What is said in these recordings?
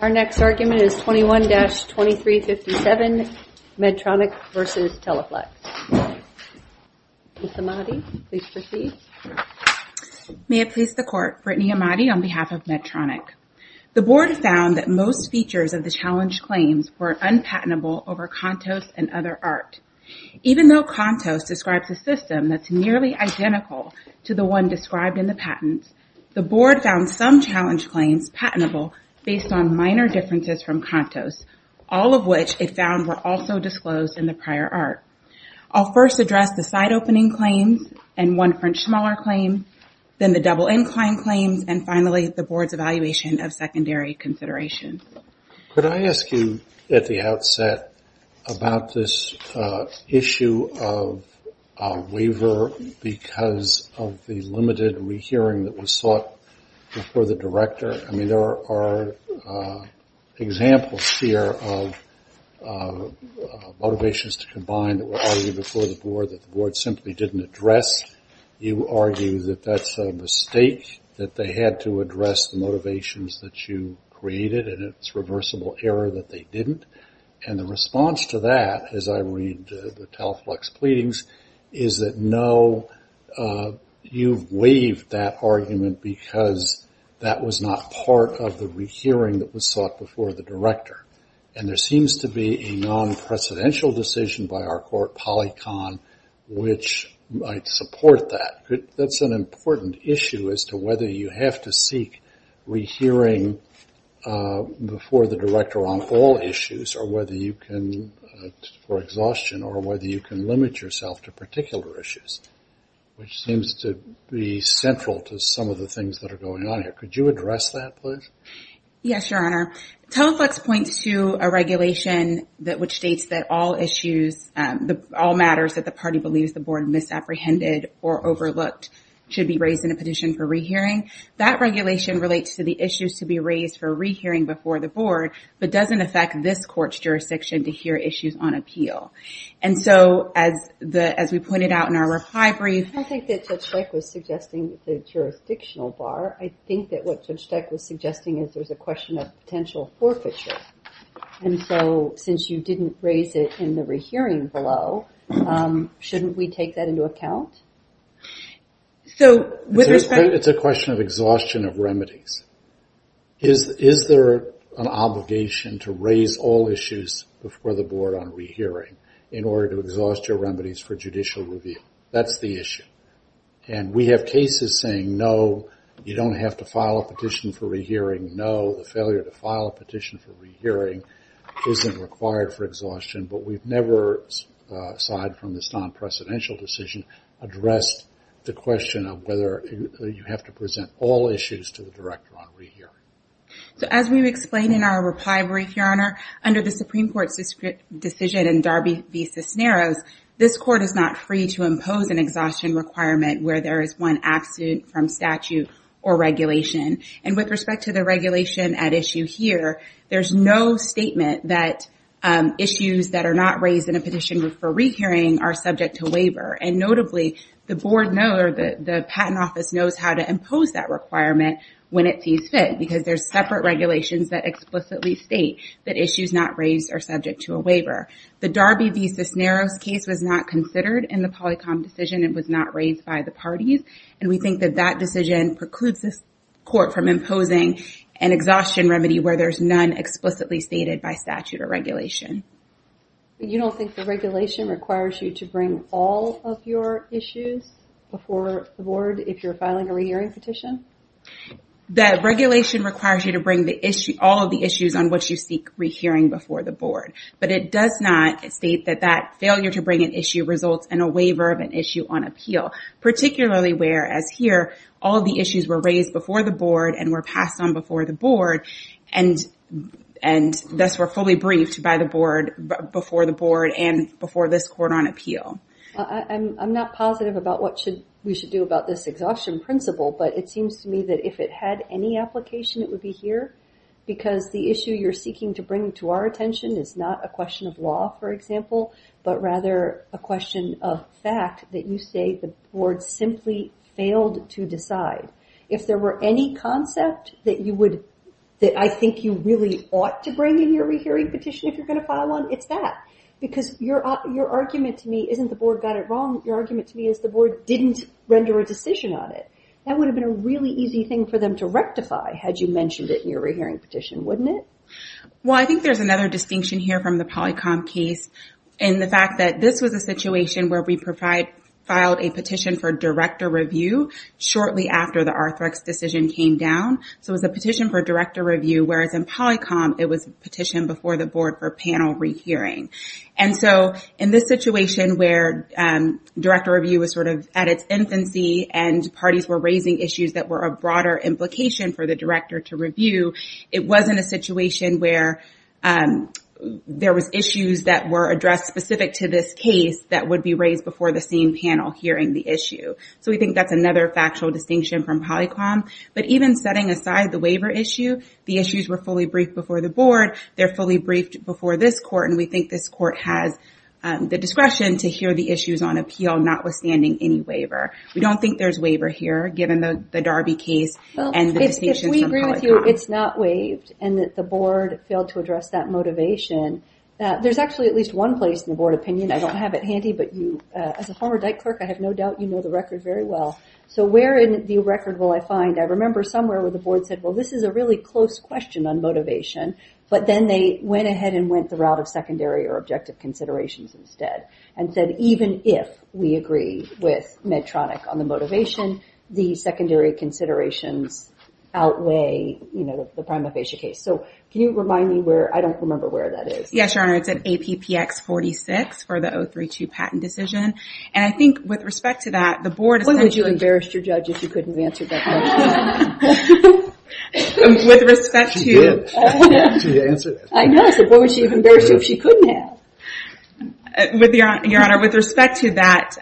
Our next argument is 21-2357, Medtronic v. Teleflex. Ms. Ahmadi, please proceed. May it please the Court, Brittany Ahmadi on behalf of Medtronic. The Board found that most features of the challenge claims were unpatentable over Contos and other art. Even though Contos describes a system that's nearly identical to the one described in the patents, the Board found some challenge claims patentable based on minor differences from Contos, all of which it found were also disclosed in the prior art. I'll first address the side-opening claims and one French smaller claim, then the double-inclined claims, and finally the Board's evaluation of secondary considerations. Could I ask you at the outset about this issue of waiver because of the limited rehearing that was sought before the Director? I mean, there are examples here of motivations to combine that were argued before the Board that the Board simply didn't address. You argue that that's a mistake, that they had to address the motivations that you created, and it's reversible error that they didn't. And the response to that, as I read the Teleflex pleadings, is that no, you've waived that argument because that was not part of the rehearing that was sought before the Director. And there seems to be a non-presidential decision by our court, PolyCon, which might support that. That's an important issue as to whether you have to seek rehearing before the Director on all issues or whether you can, for exhaustion or whether you can limit yourself to particular issues, which seems to be central to some of the things that are going on here. Could you address that, please? Yes, Your Honor. Teleflex points to a regulation which states that all matters that the party believes the Board misapprehended or overlooked should be raised in a petition for rehearing. That regulation relates to the issues to be raised for rehearing before the Board, but doesn't affect this court's jurisdiction to hear issues on appeal. And so, as we pointed out in our reply brief... I don't think that Judge Dyke was suggesting the jurisdictional bar. I think that what Judge Dyke was suggesting is there's a question of potential forfeiture. And so, since you didn't raise it in the rehearing below, shouldn't we take that into account? So, with respect... It's a question of exhaustion of remedies. Is there an obligation to raise all issues before the Board on rehearing in order to exhaust your remedies for judicial review? That's the issue. And we have cases saying, no, you don't have to file a petition for rehearing. No, the failure to file a petition for rehearing isn't required for exhaustion. But we've never, aside from this non-presidential decision, addressed the question of whether you have to present all issues to the Director on rehearing. So, as we explained in our reply brief, Your Honor, under the Supreme Court's decision in Darby v. Cisneros, this Court is not free to impose an exhaustion requirement where there is one absent from statute or regulation. And with respect to the regulation at issue here, there's no statement that issues that are not raised in a petition for rehearing are subject to waiver. And notably, the Board knows, or the Patent Office knows, how to impose that requirement when it sees fit, because there's separate regulations that explicitly state that issues not raised are subject to a waiver. The Darby v. Cisneros case was not considered in the Polycom decision. It was not raised by the parties. And we think that that decision precludes this Court from imposing an exhaustion remedy where there's none explicitly stated by statute or regulation. But you don't think the regulation requires you to bring all of your issues before the Board if you're filing a rehearing petition? The regulation requires you to bring all of the issues on which you seek rehearing before the Board. But it does not state that that failure to bring an issue results in a waiver of an issue on appeal, particularly whereas here, all of the issues were raised before the Board and were passed on before the Board, and thus were fully briefed by the Board before the Board and before this Court on appeal. I'm not positive about what we should do about this exhaustion principle, but it seems to me that if it had any application, it would be here, because the issue you're seeking to bring to our attention is not a question of law, for example, but rather a question of fact that you say the Board simply failed to decide. If there were any concept that I think you really ought to bring in your rehearing petition if you're going to file one, it's that. Because your argument to me isn't the Board got it wrong. Your argument to me is the Board didn't render a decision on it. That would have been a really easy thing for them to rectify had you mentioned it in your rehearing petition, wouldn't it? Well, I think there's another distinction here from the Polycom case in the fact that this was a situation where we filed a petition for director review shortly after the Arthrex decision came down. So it was a petition for director review, whereas in Polycom, it was a petition before the Board for panel rehearing. And so in this situation where director review was sort of at its infancy and parties were raising issues that were of broader implication for the director to review, it wasn't a situation where there was issues that were addressed specific to this case that would be raised before the same panel hearing the issue. So we think that's another factual distinction from Polycom. But even setting aside the waiver issue, the issues were fully briefed before the Board. They're fully briefed before this court, and we think this court has the discretion to hear the issues on appeal notwithstanding any waiver. We don't think there's waiver here, given the Darby case and the distinction from Polycom. If we agree with you it's not waived and that the Board failed to address that motivation, there's actually at least one place in the Board opinion. I don't have it handy, but as a former Dyke clerk, I have no doubt you know the record very well. So where in the record will I find? I remember somewhere where the Board said, well, this is a really close question on motivation, but then they went ahead and went the route of secondary or objective considerations instead and said even if we agree with Medtronic on the motivation, the secondary considerations outweigh the prima facie case. So can you remind me where? I don't remember where that is. Yes, Your Honor, it's at APPX 46 for the 032 patent decision. And I think with respect to that, the Board... What would you have embarrassed your judge if you couldn't have answered that question? With respect to... She did. She answered it. I know, so what would she have embarrassed you if she couldn't have? Your Honor, with respect to that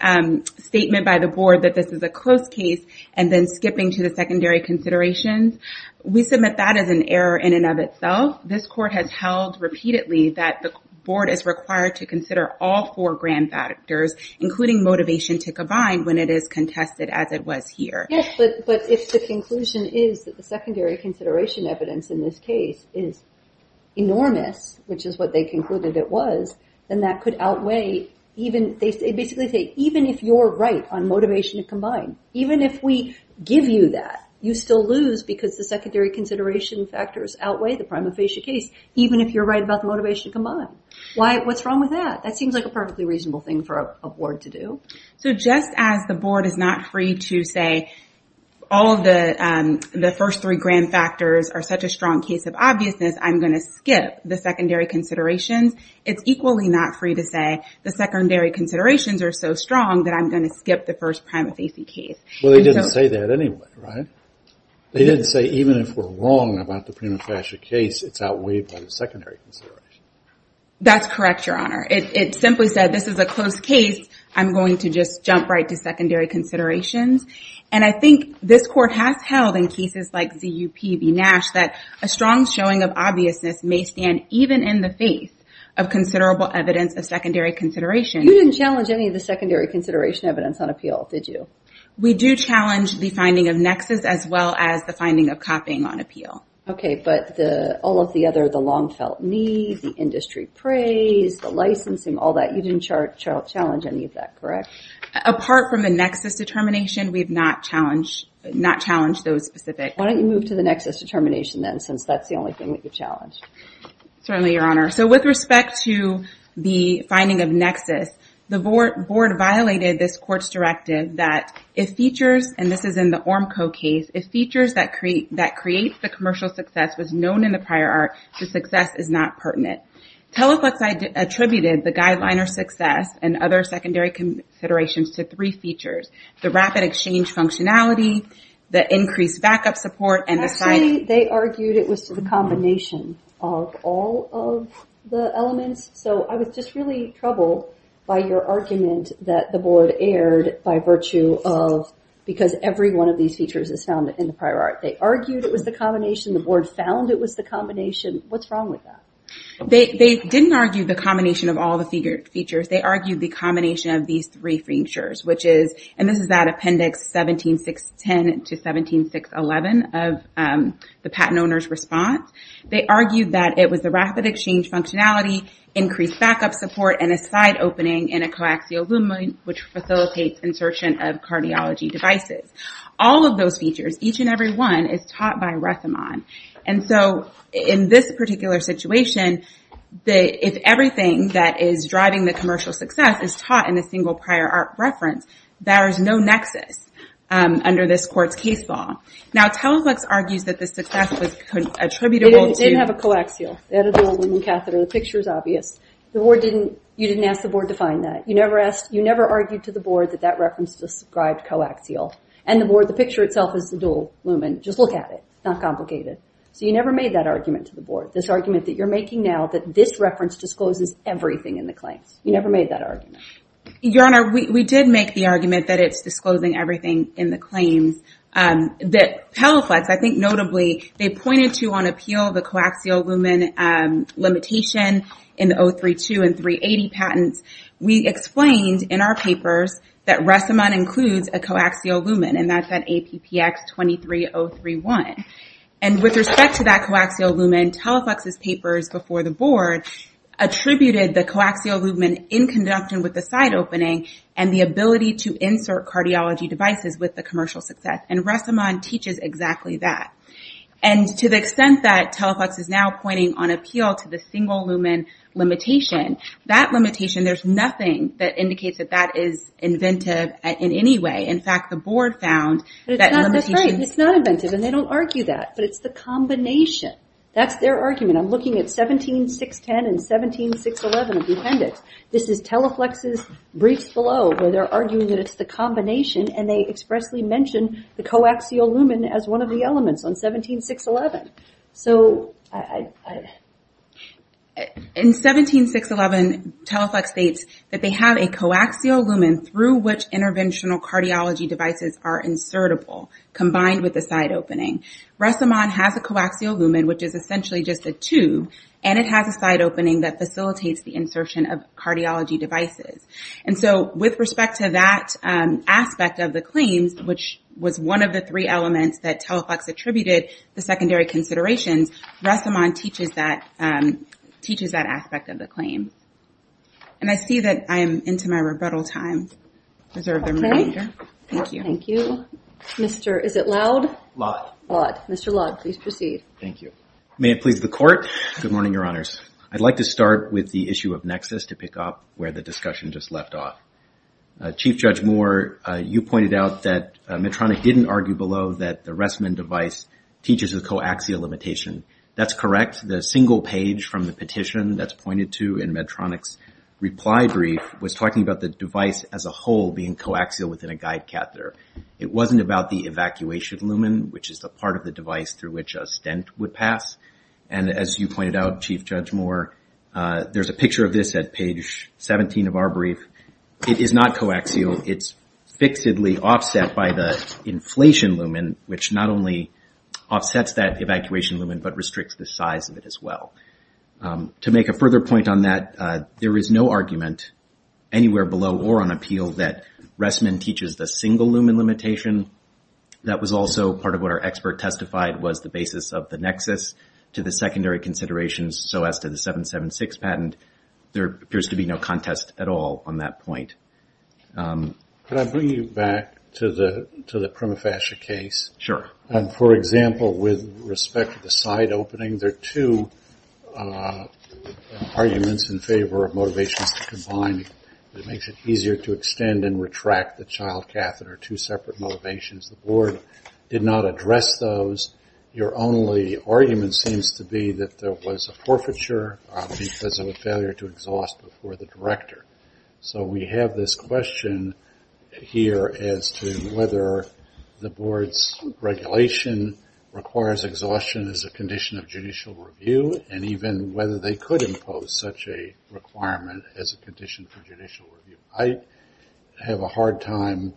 statement by the Board that this is a close case and then skipping to the secondary considerations, we submit that as an error in and of itself. This Court has held repeatedly that the Board is required to consider all four grand factors, including motivation to combine, when it is contested as it was here. Yes, but if the conclusion is that the secondary consideration evidence in this case is enormous, which is what they concluded it was, then that could outweigh... They basically say, even if you're right on motivation to combine, even if we give you that, you still lose because the secondary consideration factors outweigh the prima facie case, even if you're right about the motivation to combine. What's wrong with that? That seems like a perfectly reasonable thing for a Board to do. So just as the Board is not free to say, all of the first three grand factors are such a strong case of obviousness, I'm going to skip the secondary considerations. It's equally not free to say the secondary considerations are so strong that I'm going to skip the first prima facie case. Well, they didn't say that anyway, right? They didn't say, even if we're wrong about the prima facie case, it's outweighed by the secondary consideration. That's correct, Your Honor. It simply said, this is a close case. I'm going to just jump right to secondary considerations. And I think this Court has held in cases like ZUP v. Nash that a strong showing of obviousness may stand even in the face of considerable evidence of secondary consideration. You didn't challenge any of the secondary consideration evidence on appeal, did you? We do challenge the finding of nexus as well as the finding of copying on appeal. Okay, but all of the other, the long-felt need, the industry praise, the licensing, all that, you didn't challenge any of that, correct? Apart from the nexus determination, we've not challenged those specific. Why don't you move to the nexus determination then, since that's the only thing that you've challenged? Certainly, Your Honor. So with respect to the finding of nexus, the Board violated this Court's directive that if features, and this is in the ORMCO case, if features that create the commercial success was known in the prior art, the success is not pertinent. Teleflex attributed the guideline or success and other secondary considerations to three features, the rapid exchange functionality, the increased backup support, and the size. Actually, they argued it was to the combination of all of the elements, so I was just really troubled by your argument that the Board erred by virtue of because every one of these features is found in the prior art. They argued it was the combination. The Board found it was the combination. What's wrong with that? They didn't argue the combination of all the features. They argued the combination of these three features, which is, and this is that Appendix 17610 to 17611 of the patent owner's response. They argued that it was the rapid exchange functionality, increased backup support, and a side opening in a coaxial lumen which facilitates insertion of cardiology devices. All of those features, each and every one, is taught by Rethemann. And so in this particular situation, if everything that is driving the commercial success is taught in a single prior art reference, there is no nexus under this court's case law. Now, Teleglex argues that the success was attributable to- It didn't have a coaxial. It had a dual lumen catheter. The picture is obvious. You didn't ask the Board to find that. You never argued to the Board that that reference described coaxial. And the Board, the picture itself is the dual lumen. Just look at it. It's not complicated. So you never made that argument to the Board, this argument that you're making now, that this reference discloses everything in the claims. You never made that argument. Your Honor, we did make the argument that it's disclosing everything in the claims. Teleflex, I think notably, they pointed to on appeal the coaxial lumen limitation in the 032 and 380 patents. We explained in our papers that Rethemann includes a coaxial lumen, and that's at APPX 23031. And with respect to that coaxial lumen, Teleflex's papers before the Board attributed the coaxial lumen in conduction with the side opening and the ability to insert cardiology devices with the commercial success. And Rethemann teaches exactly that. And to the extent that Teleflex is now pointing on appeal to the single lumen limitation, that limitation, there's nothing that indicates that that is inventive in any way. In fact, the Board found that limitation... That's right. It's not inventive, and they don't argue that. But it's the combination. That's their argument. I'm looking at 17.610 and 17.611 of the appendix. This is Teleflex's brief below, where they're arguing that it's the combination, and they expressly mention the coaxial lumen as one of the elements on 17.611. So... In 17.611, Teleflex states that they have a coaxial lumen through which interventional cardiology devices are insertable, combined with the side opening. Rethemann has a coaxial lumen, which is essentially just a tube, and it has a side opening that facilitates the insertion of cardiology devices. And so with respect to that aspect of the claims, which was one of the three elements that Teleflex attributed the secondary considerations, Rethemann teaches that aspect of the claim. And I see that I am into my rebuttal time. Reserve the remainder. Thank you. Thank you. Mr. Is it Loud? Loud. Loud. Mr. Loud, please proceed. Thank you. May it please the Court. Good morning, Your Honors. I'd like to start with the issue of Nexus to pick up where the discussion just left off. Chief Judge Moore, you pointed out that Medtronic didn't argue below that the Rethemann device teaches a coaxial limitation. That's correct. The single page from the petition that's pointed to in Medtronic's reply brief was talking about the device as a whole being coaxial within a guide catheter. It wasn't about the evacuation lumen, which is the part of the device through which a stent would pass. And as you pointed out, Chief Judge Moore, there's a picture of this at page 17 of our brief. It is not coaxial. It's fixedly offset by the inflation lumen, which not only offsets that evacuation lumen, but restricts the size of it as well. To make a further point on that, there is no argument anywhere below or on appeal that Rethemann teaches the single lumen limitation. That was also part of what our expert testified was the basis of the nexus to the secondary considerations so as to the 776 patent. There appears to be no contest at all on that point. Could I bring you back to the Prima Fascia case? Sure. For example, with respect to the side opening, there are two arguments in favor of motivations to combine. It makes it easier to extend and retract the child catheter, two separate motivations. The board did not address those. Your only argument seems to be that there was a forfeiture because of a failure to exhaust before the director. So we have this question here as to whether the board's regulation requires exhaustion as a condition of judicial review, and even whether they could impose such a requirement as a condition for judicial review. I have a hard time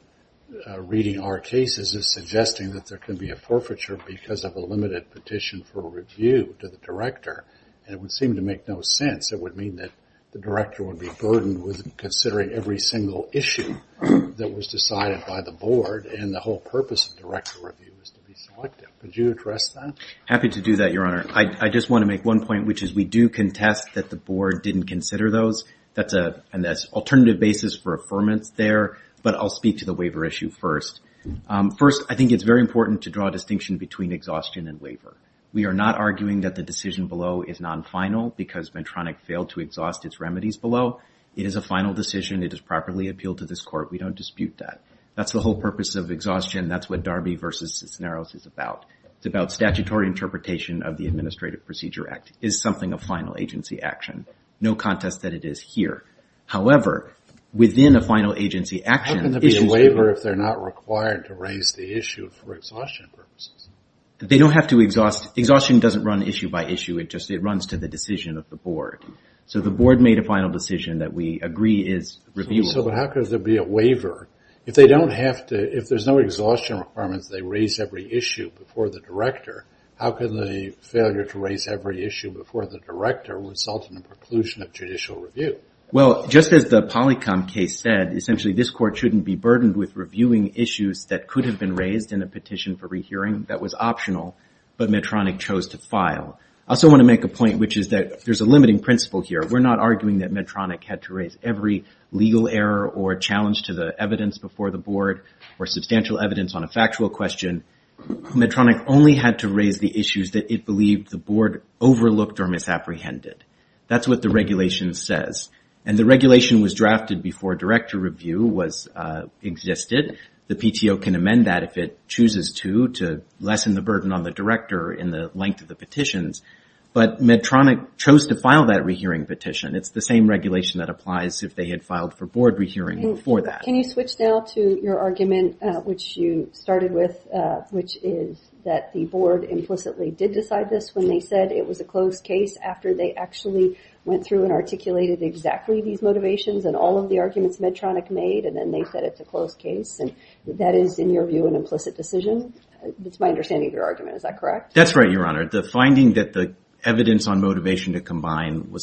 reading our cases as suggesting that there can be a forfeiture because of a limited petition for review to the director. And it would seem to make no sense. It would mean that the director would be burdened with considering every single issue that was decided by the board, and the whole purpose of director review is to be selective. Could you address that? Happy to do that, Your Honor. I just want to make one point, which is we do contest that the board didn't consider those. That's an alternative basis for affirmance there, but I'll speak to the waiver issue first. First, I think it's very important to draw a distinction between exhaustion and waiver. We are not arguing that the decision below is non-final because Medtronic failed to exhaust its remedies below. It is a final decision. It is properly appealed to this court. We don't dispute that. That's the whole purpose of exhaustion. That's what Darby v. Cisneros is about. It's about statutory interpretation of the Administrative Procedure Act. It is something of final agency action. No contest that it is here. However, within a final agency action... How can there be a waiver if they're not required to raise the issue for exhaustion purposes? They don't have to exhaust. Exhaustion doesn't run issue by issue. It just runs to the decision of the board. So the board made a final decision that we agree is reviewable. So how could there be a waiver? If they don't have to, if there's no exhaustion requirements, they raise every issue before the director, how could the failure to raise every issue before the director result in a preclusion of judicial review? Well, just as the Polycom case said, essentially this court shouldn't be burdened with reviewing issues that could have been raised in a petition for rehearing that was optional but Medtronic chose to file. I also want to make a point, which is that there's a limiting principle here. We're not arguing that Medtronic had to raise every legal error or challenge to the evidence before the board or substantial evidence on a factual question. Medtronic only had to raise the issues that it believed the board overlooked or misapprehended. That's what the regulation says. And the regulation was drafted before director review existed. The PTO can amend that if it chooses to, to lessen the burden on the director in the length of the petitions. But Medtronic chose to file that rehearing petition. It's the same regulation that applies if they had filed for board rehearing before that. Can you switch now to your argument, which you started with, which is that the board implicitly did decide this when they said it was a close case after they actually went through and articulated exactly these motivations and all of the arguments Medtronic made and then they said it's a close case. That is, in your view, an implicit decision? That's my understanding of your argument. Is that correct? That's right, Your Honor. The finding that the evidence on motivation to combine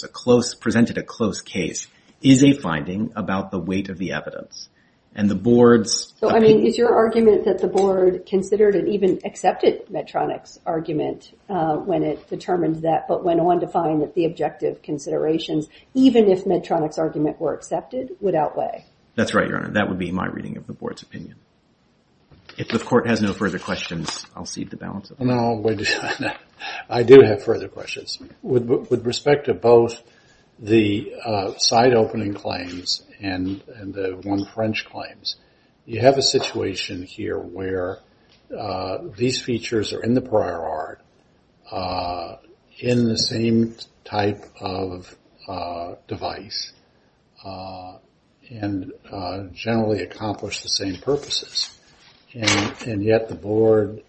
presented a close case is a finding about the weight of the evidence. And the board's... So, I mean, is your argument that the board considered and even accepted Medtronic's argument when it determined that, but went on to find that the objective considerations, even if Medtronic's argument were accepted, would outweigh? That's right, Your Honor. That would be my reading of the board's opinion. If the court has no further questions, I'll cede the balance. No, I do have further questions. With respect to both the side opening claims and the one French claims, you have a situation here where these features are in the prior art, in the same type of device, and generally accomplish the same purposes. And yet the board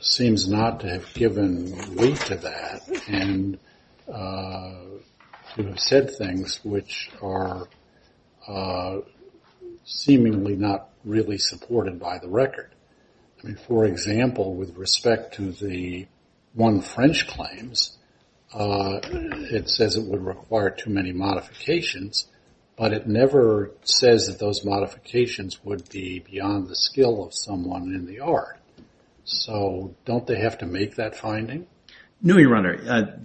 seems not to have given weight to that and to have said things which are seemingly not really supported by the record. I mean, for example, with respect to the one French claims, it says it would require too many modifications, but it never says that those modifications would be beyond the skill of someone in the art. So don't they have to make that finding? No, Your Honor.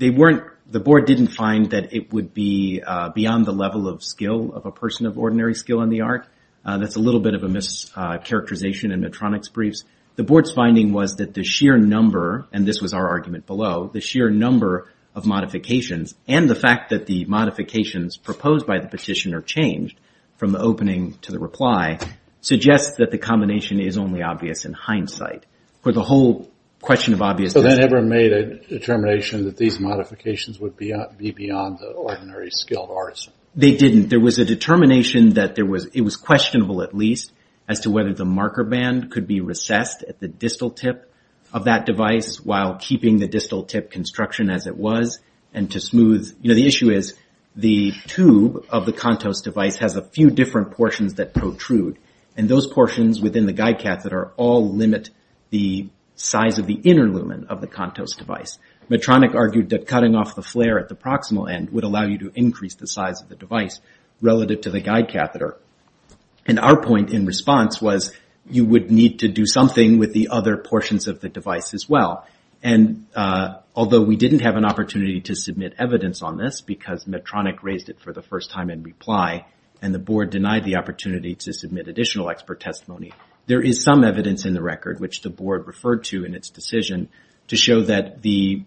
The board didn't find that it would be beyond the level of skill of a person of ordinary skill in the art. That's a little bit of a mischaracterization in Medtronic's briefs. The board's finding was that the sheer number, and this was our argument below, the sheer number of modifications and the fact that the modifications proposed by the petitioner changed from the opening to the reply suggests that the combination is only obvious in hindsight. For the whole question of obviousness... So they never made a determination that these modifications would be beyond the ordinary skilled arts. They didn't. There was a determination that it was questionable, at least, as to whether the marker band could be recessed at the distal tip of that device while keeping the distal tip construction as it was and to smooth. The issue is the tube of the Contos device has a few different portions that protrude, and those portions within the guide catheter all limit the size of the inner lumen of the Contos device. Medtronic argued that cutting off the flare at the proximal end would allow you to increase the size of the device relative to the guide catheter. And our point in response was you would need to do something with the other portions of the device as well. And although we didn't have an opportunity to submit evidence on this because Medtronic raised it for the first time in reply and the board denied the opportunity to submit additional expert testimony, there is some evidence in the record, which the board referred to in its decision, to show that the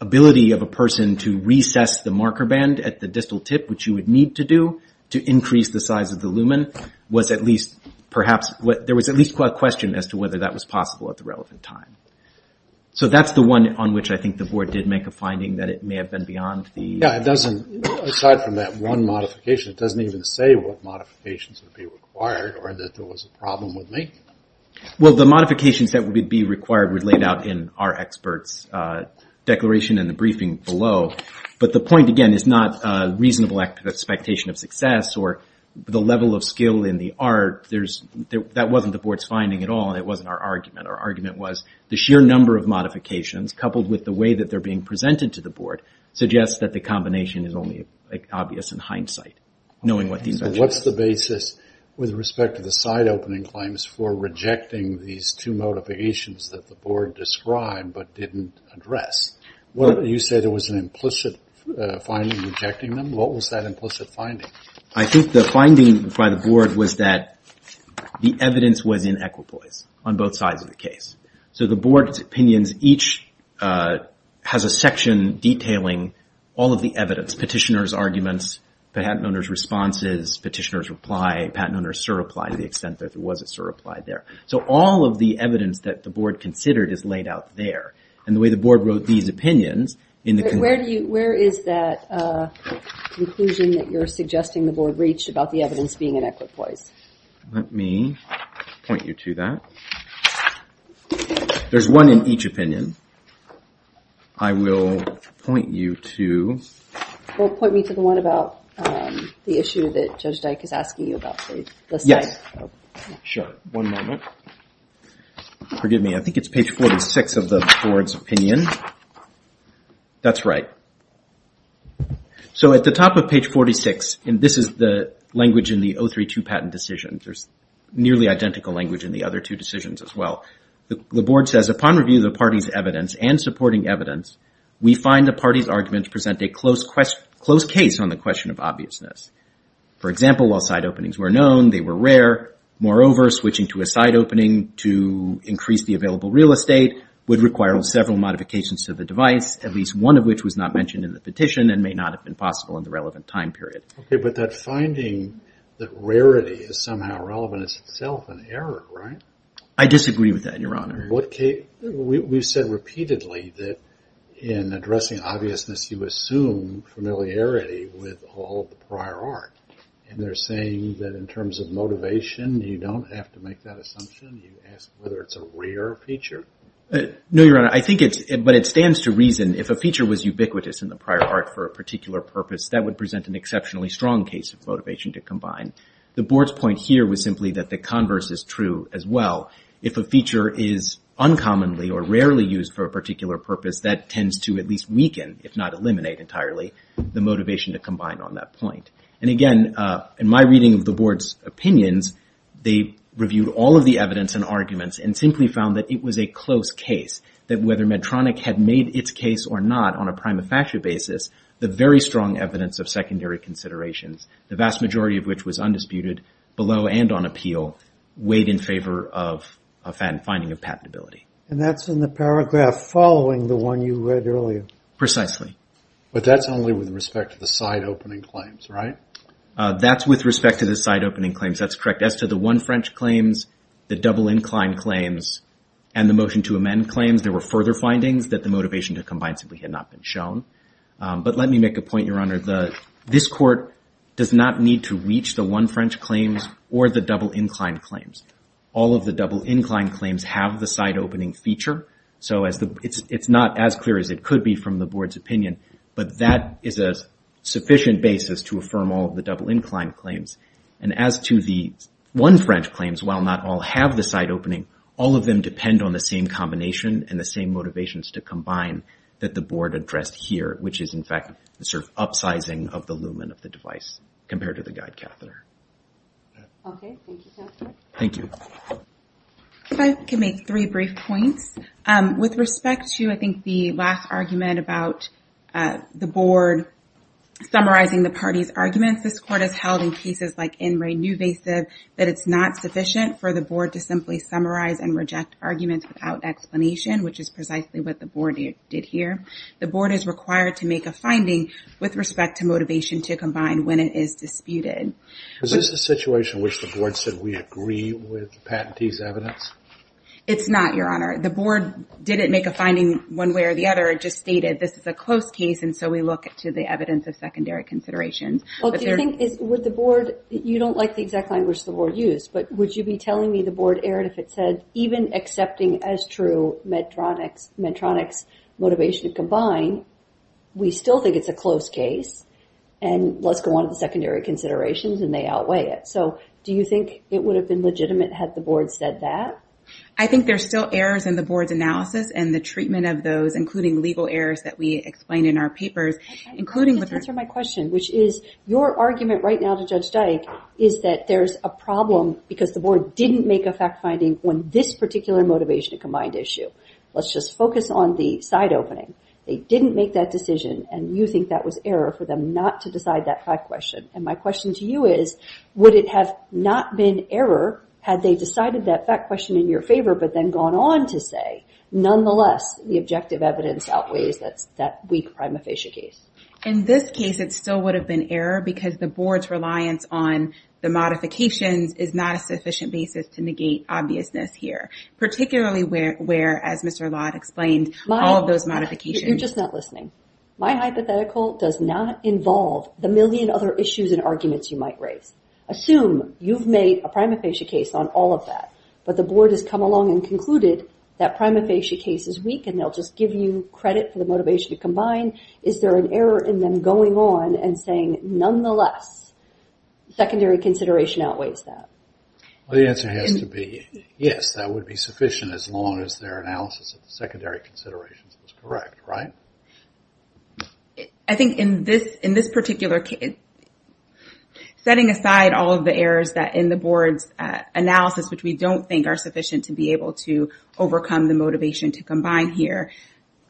ability of a person to recess the marker band at the distal tip, which you would need to do to increase the size of the lumen, was at least, perhaps, there was at least a question as to whether that was possible at the relevant time. So that's the one on which I think the board did make a finding that it may have been beyond the... Yeah, it doesn't, aside from that one modification, it doesn't even say what modifications would be required or that there was a problem with making them. Well, the modifications that would be required were laid out in our experts' declaration in the briefing below. But the point, again, is not reasonable expectation of success or the level of skill in the art. That wasn't the board's finding at all, and it wasn't our argument. Our argument was the sheer number of modifications, coupled with the way that they're being presented to the board, suggests that the combination is only obvious in hindsight, knowing what these are. What's the basis with respect to the side opening claims for rejecting these two modifications that the board described but didn't address? You said there was an implicit finding rejecting them. What was that implicit finding? I think the finding by the board was that the evidence was in equipoise on both sides of the case. So the board's opinions each has a section detailing all of the evidence, petitioner's arguments, patent owner's responses, petitioner's reply, patent owner's surreply to the extent that there was a surreply there. So all of the evidence that the board considered is laid out there. And the way the board wrote these opinions in the conclusion... Where is that conclusion that you're suggesting the board reached about the evidence being in equipoise? Let me point you to that. There's one in each opinion. I will point you to... Point me to the one about the issue that Judge Dyke is asking you about. Yes. Sure. One moment. Forgive me. I think it's page 46 of the board's opinion. That's right. So at the top of page 46, and this is the language in the 032 patent decision. There's nearly identical language in the other two decisions as well. The board says, upon review of the party's evidence and supporting evidence, we find the party's argument to present a close case on the question of obviousness. For example, while side openings were known, they were rare. Moreover, switching to a side opening to increase the available real estate would require several modifications to the device, at least one of which was not mentioned in the petition and may not have been possible in the relevant time period. Okay, but that finding that rarity is somehow relevant is itself an error, right? I disagree with that, Your Honor. We've said repeatedly that in addressing obviousness, you assume familiarity with all of the prior art. And they're saying that in terms of motivation, you don't have to make that assumption. You ask whether it's a rare feature. No, Your Honor. I think it's... But it stands to reason if a feature was ubiquitous in the prior art for a particular purpose, that would present an exceptionally strong case of motivation to combine. The Board's point here was simply that the converse is true as well. If a feature is uncommonly or rarely used for a particular purpose, that tends to at least weaken, if not eliminate entirely, the motivation to combine on that point. And again, in my reading of the Board's opinions, they reviewed all of the evidence and arguments and simply found that it was a close case, that whether Medtronic had made its case or not on a prima facie basis, the very strong evidence of secondary considerations, the vast majority of which was undisputed, below and on appeal, weighed in favor of a finding of patentability. And that's in the paragraph following the one you read earlier. Precisely. But that's only with respect to the side-opening claims, right? That's with respect to the side-opening claims. That's correct. As to the one French claims, the double-inclined claims, and the motion to amend claims, there were further findings that the motivation to combine simply had not been shown. But let me make a point, Your Honor. This Court does not need to reach the one French claims or the double-inclined claims. All of the double-inclined claims have the side-opening feature. So it's not as clear as it could be from the Board's opinion, but that is a sufficient basis to affirm all of the double-inclined claims. And as to the one French claims, while not all have the side-opening, all of them depend on the same combination and the same motivations to combine that the Board addressed here, which is, in fact, the sort of upsizing of the lumen of the device compared to the guide catheter. Okay. Thank you, Justice. Thank you. If I could make three brief points. With respect to, I think, the last argument about the Board summarizing the parties' arguments, this Court has held in cases like In Re Nuvasiv that it's not sufficient for the Board to simply summarize and reject arguments without explanation, which is precisely what the Board did here. The Board is required to make a finding with respect to motivation to combine when it is disputed. Is this a situation in which the Board said, we agree with the patentee's evidence? It's not, Your Honor. The Board didn't make a finding one way or the other. It just stated, this is a close case, and so we look to the evidence of secondary considerations. Well, do you think, would the Board, you don't like the exact language the Board used, but would you be telling me the Board erred if it said, even accepting as true Medtronic's motivation to combine, we still think it's a close case, and let's go on to the secondary considerations, and they outweigh it. So, do you think it would have been legitimate had the Board said that? I think there's still errors in the Board's analysis and the treatment of those, including legal errors that we explained in our papers, including with the... Let me just answer my question, which is, your argument right now to Judge Dyke is that there's a problem because the Board didn't make a fact-finding on this particular motivation to combine issue. Let's just focus on the side opening. They didn't make that decision, and you think that was error for them not to decide that fact question. And my question to you is, would it have not been error had they decided that fact question in your favor but then gone on to say, nonetheless, the objective evidence outweighs that weak prima facie case? In this case, it still would have been error because the Board's reliance on the modifications is not a sufficient basis to negate obviousness here, particularly where, as Mr. Lott explained, all of those modifications... You're just not listening. My hypothetical does not involve the million other issues and arguments you might raise. Assume you've made a prima facie case on all of that, but the Board has come along and concluded that prima facie case is weak, and they'll just give you credit for the motivation to combine. Is there an error in them going on and saying, nonetheless, secondary consideration outweighs that? The answer has to be yes, that would be sufficient as long as their analysis of the secondary considerations is correct, right? I think in this particular case, setting aside all of the errors that in the Board's analysis, which we don't think are sufficient to be able to overcome the motivation to combine here,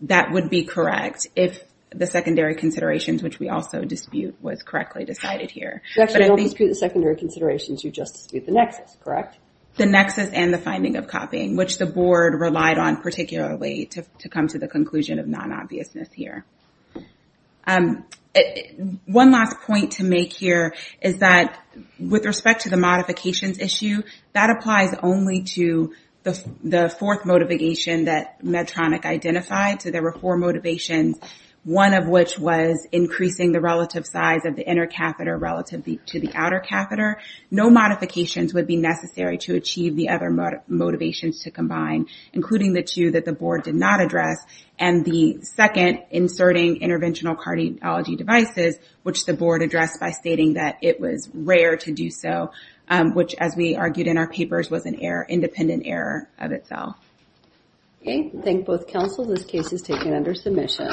that would be correct if the secondary considerations, which we also dispute, was correctly decided here. You actually don't dispute the secondary considerations, you just dispute the nexus, correct? The nexus and the finding of copying, which the Board relied on particularly to come to the conclusion of non-obviousness here. One last point to make here is that with respect to the modifications issue, that applies only to the fourth motivation that Medtronic identified. So there were four motivations, one of which was increasing the relative size of the inner catheter relative to the outer catheter. No modifications would be necessary to achieve the other motivations to combine, including the two that the Board did not address, and the second, inserting interventional cardiology devices, which the Board addressed by stating that it was rare to do so, which, as we argued in our papers, was an independent error of itself. Okay, I thank both counsel. This case is taken under submission.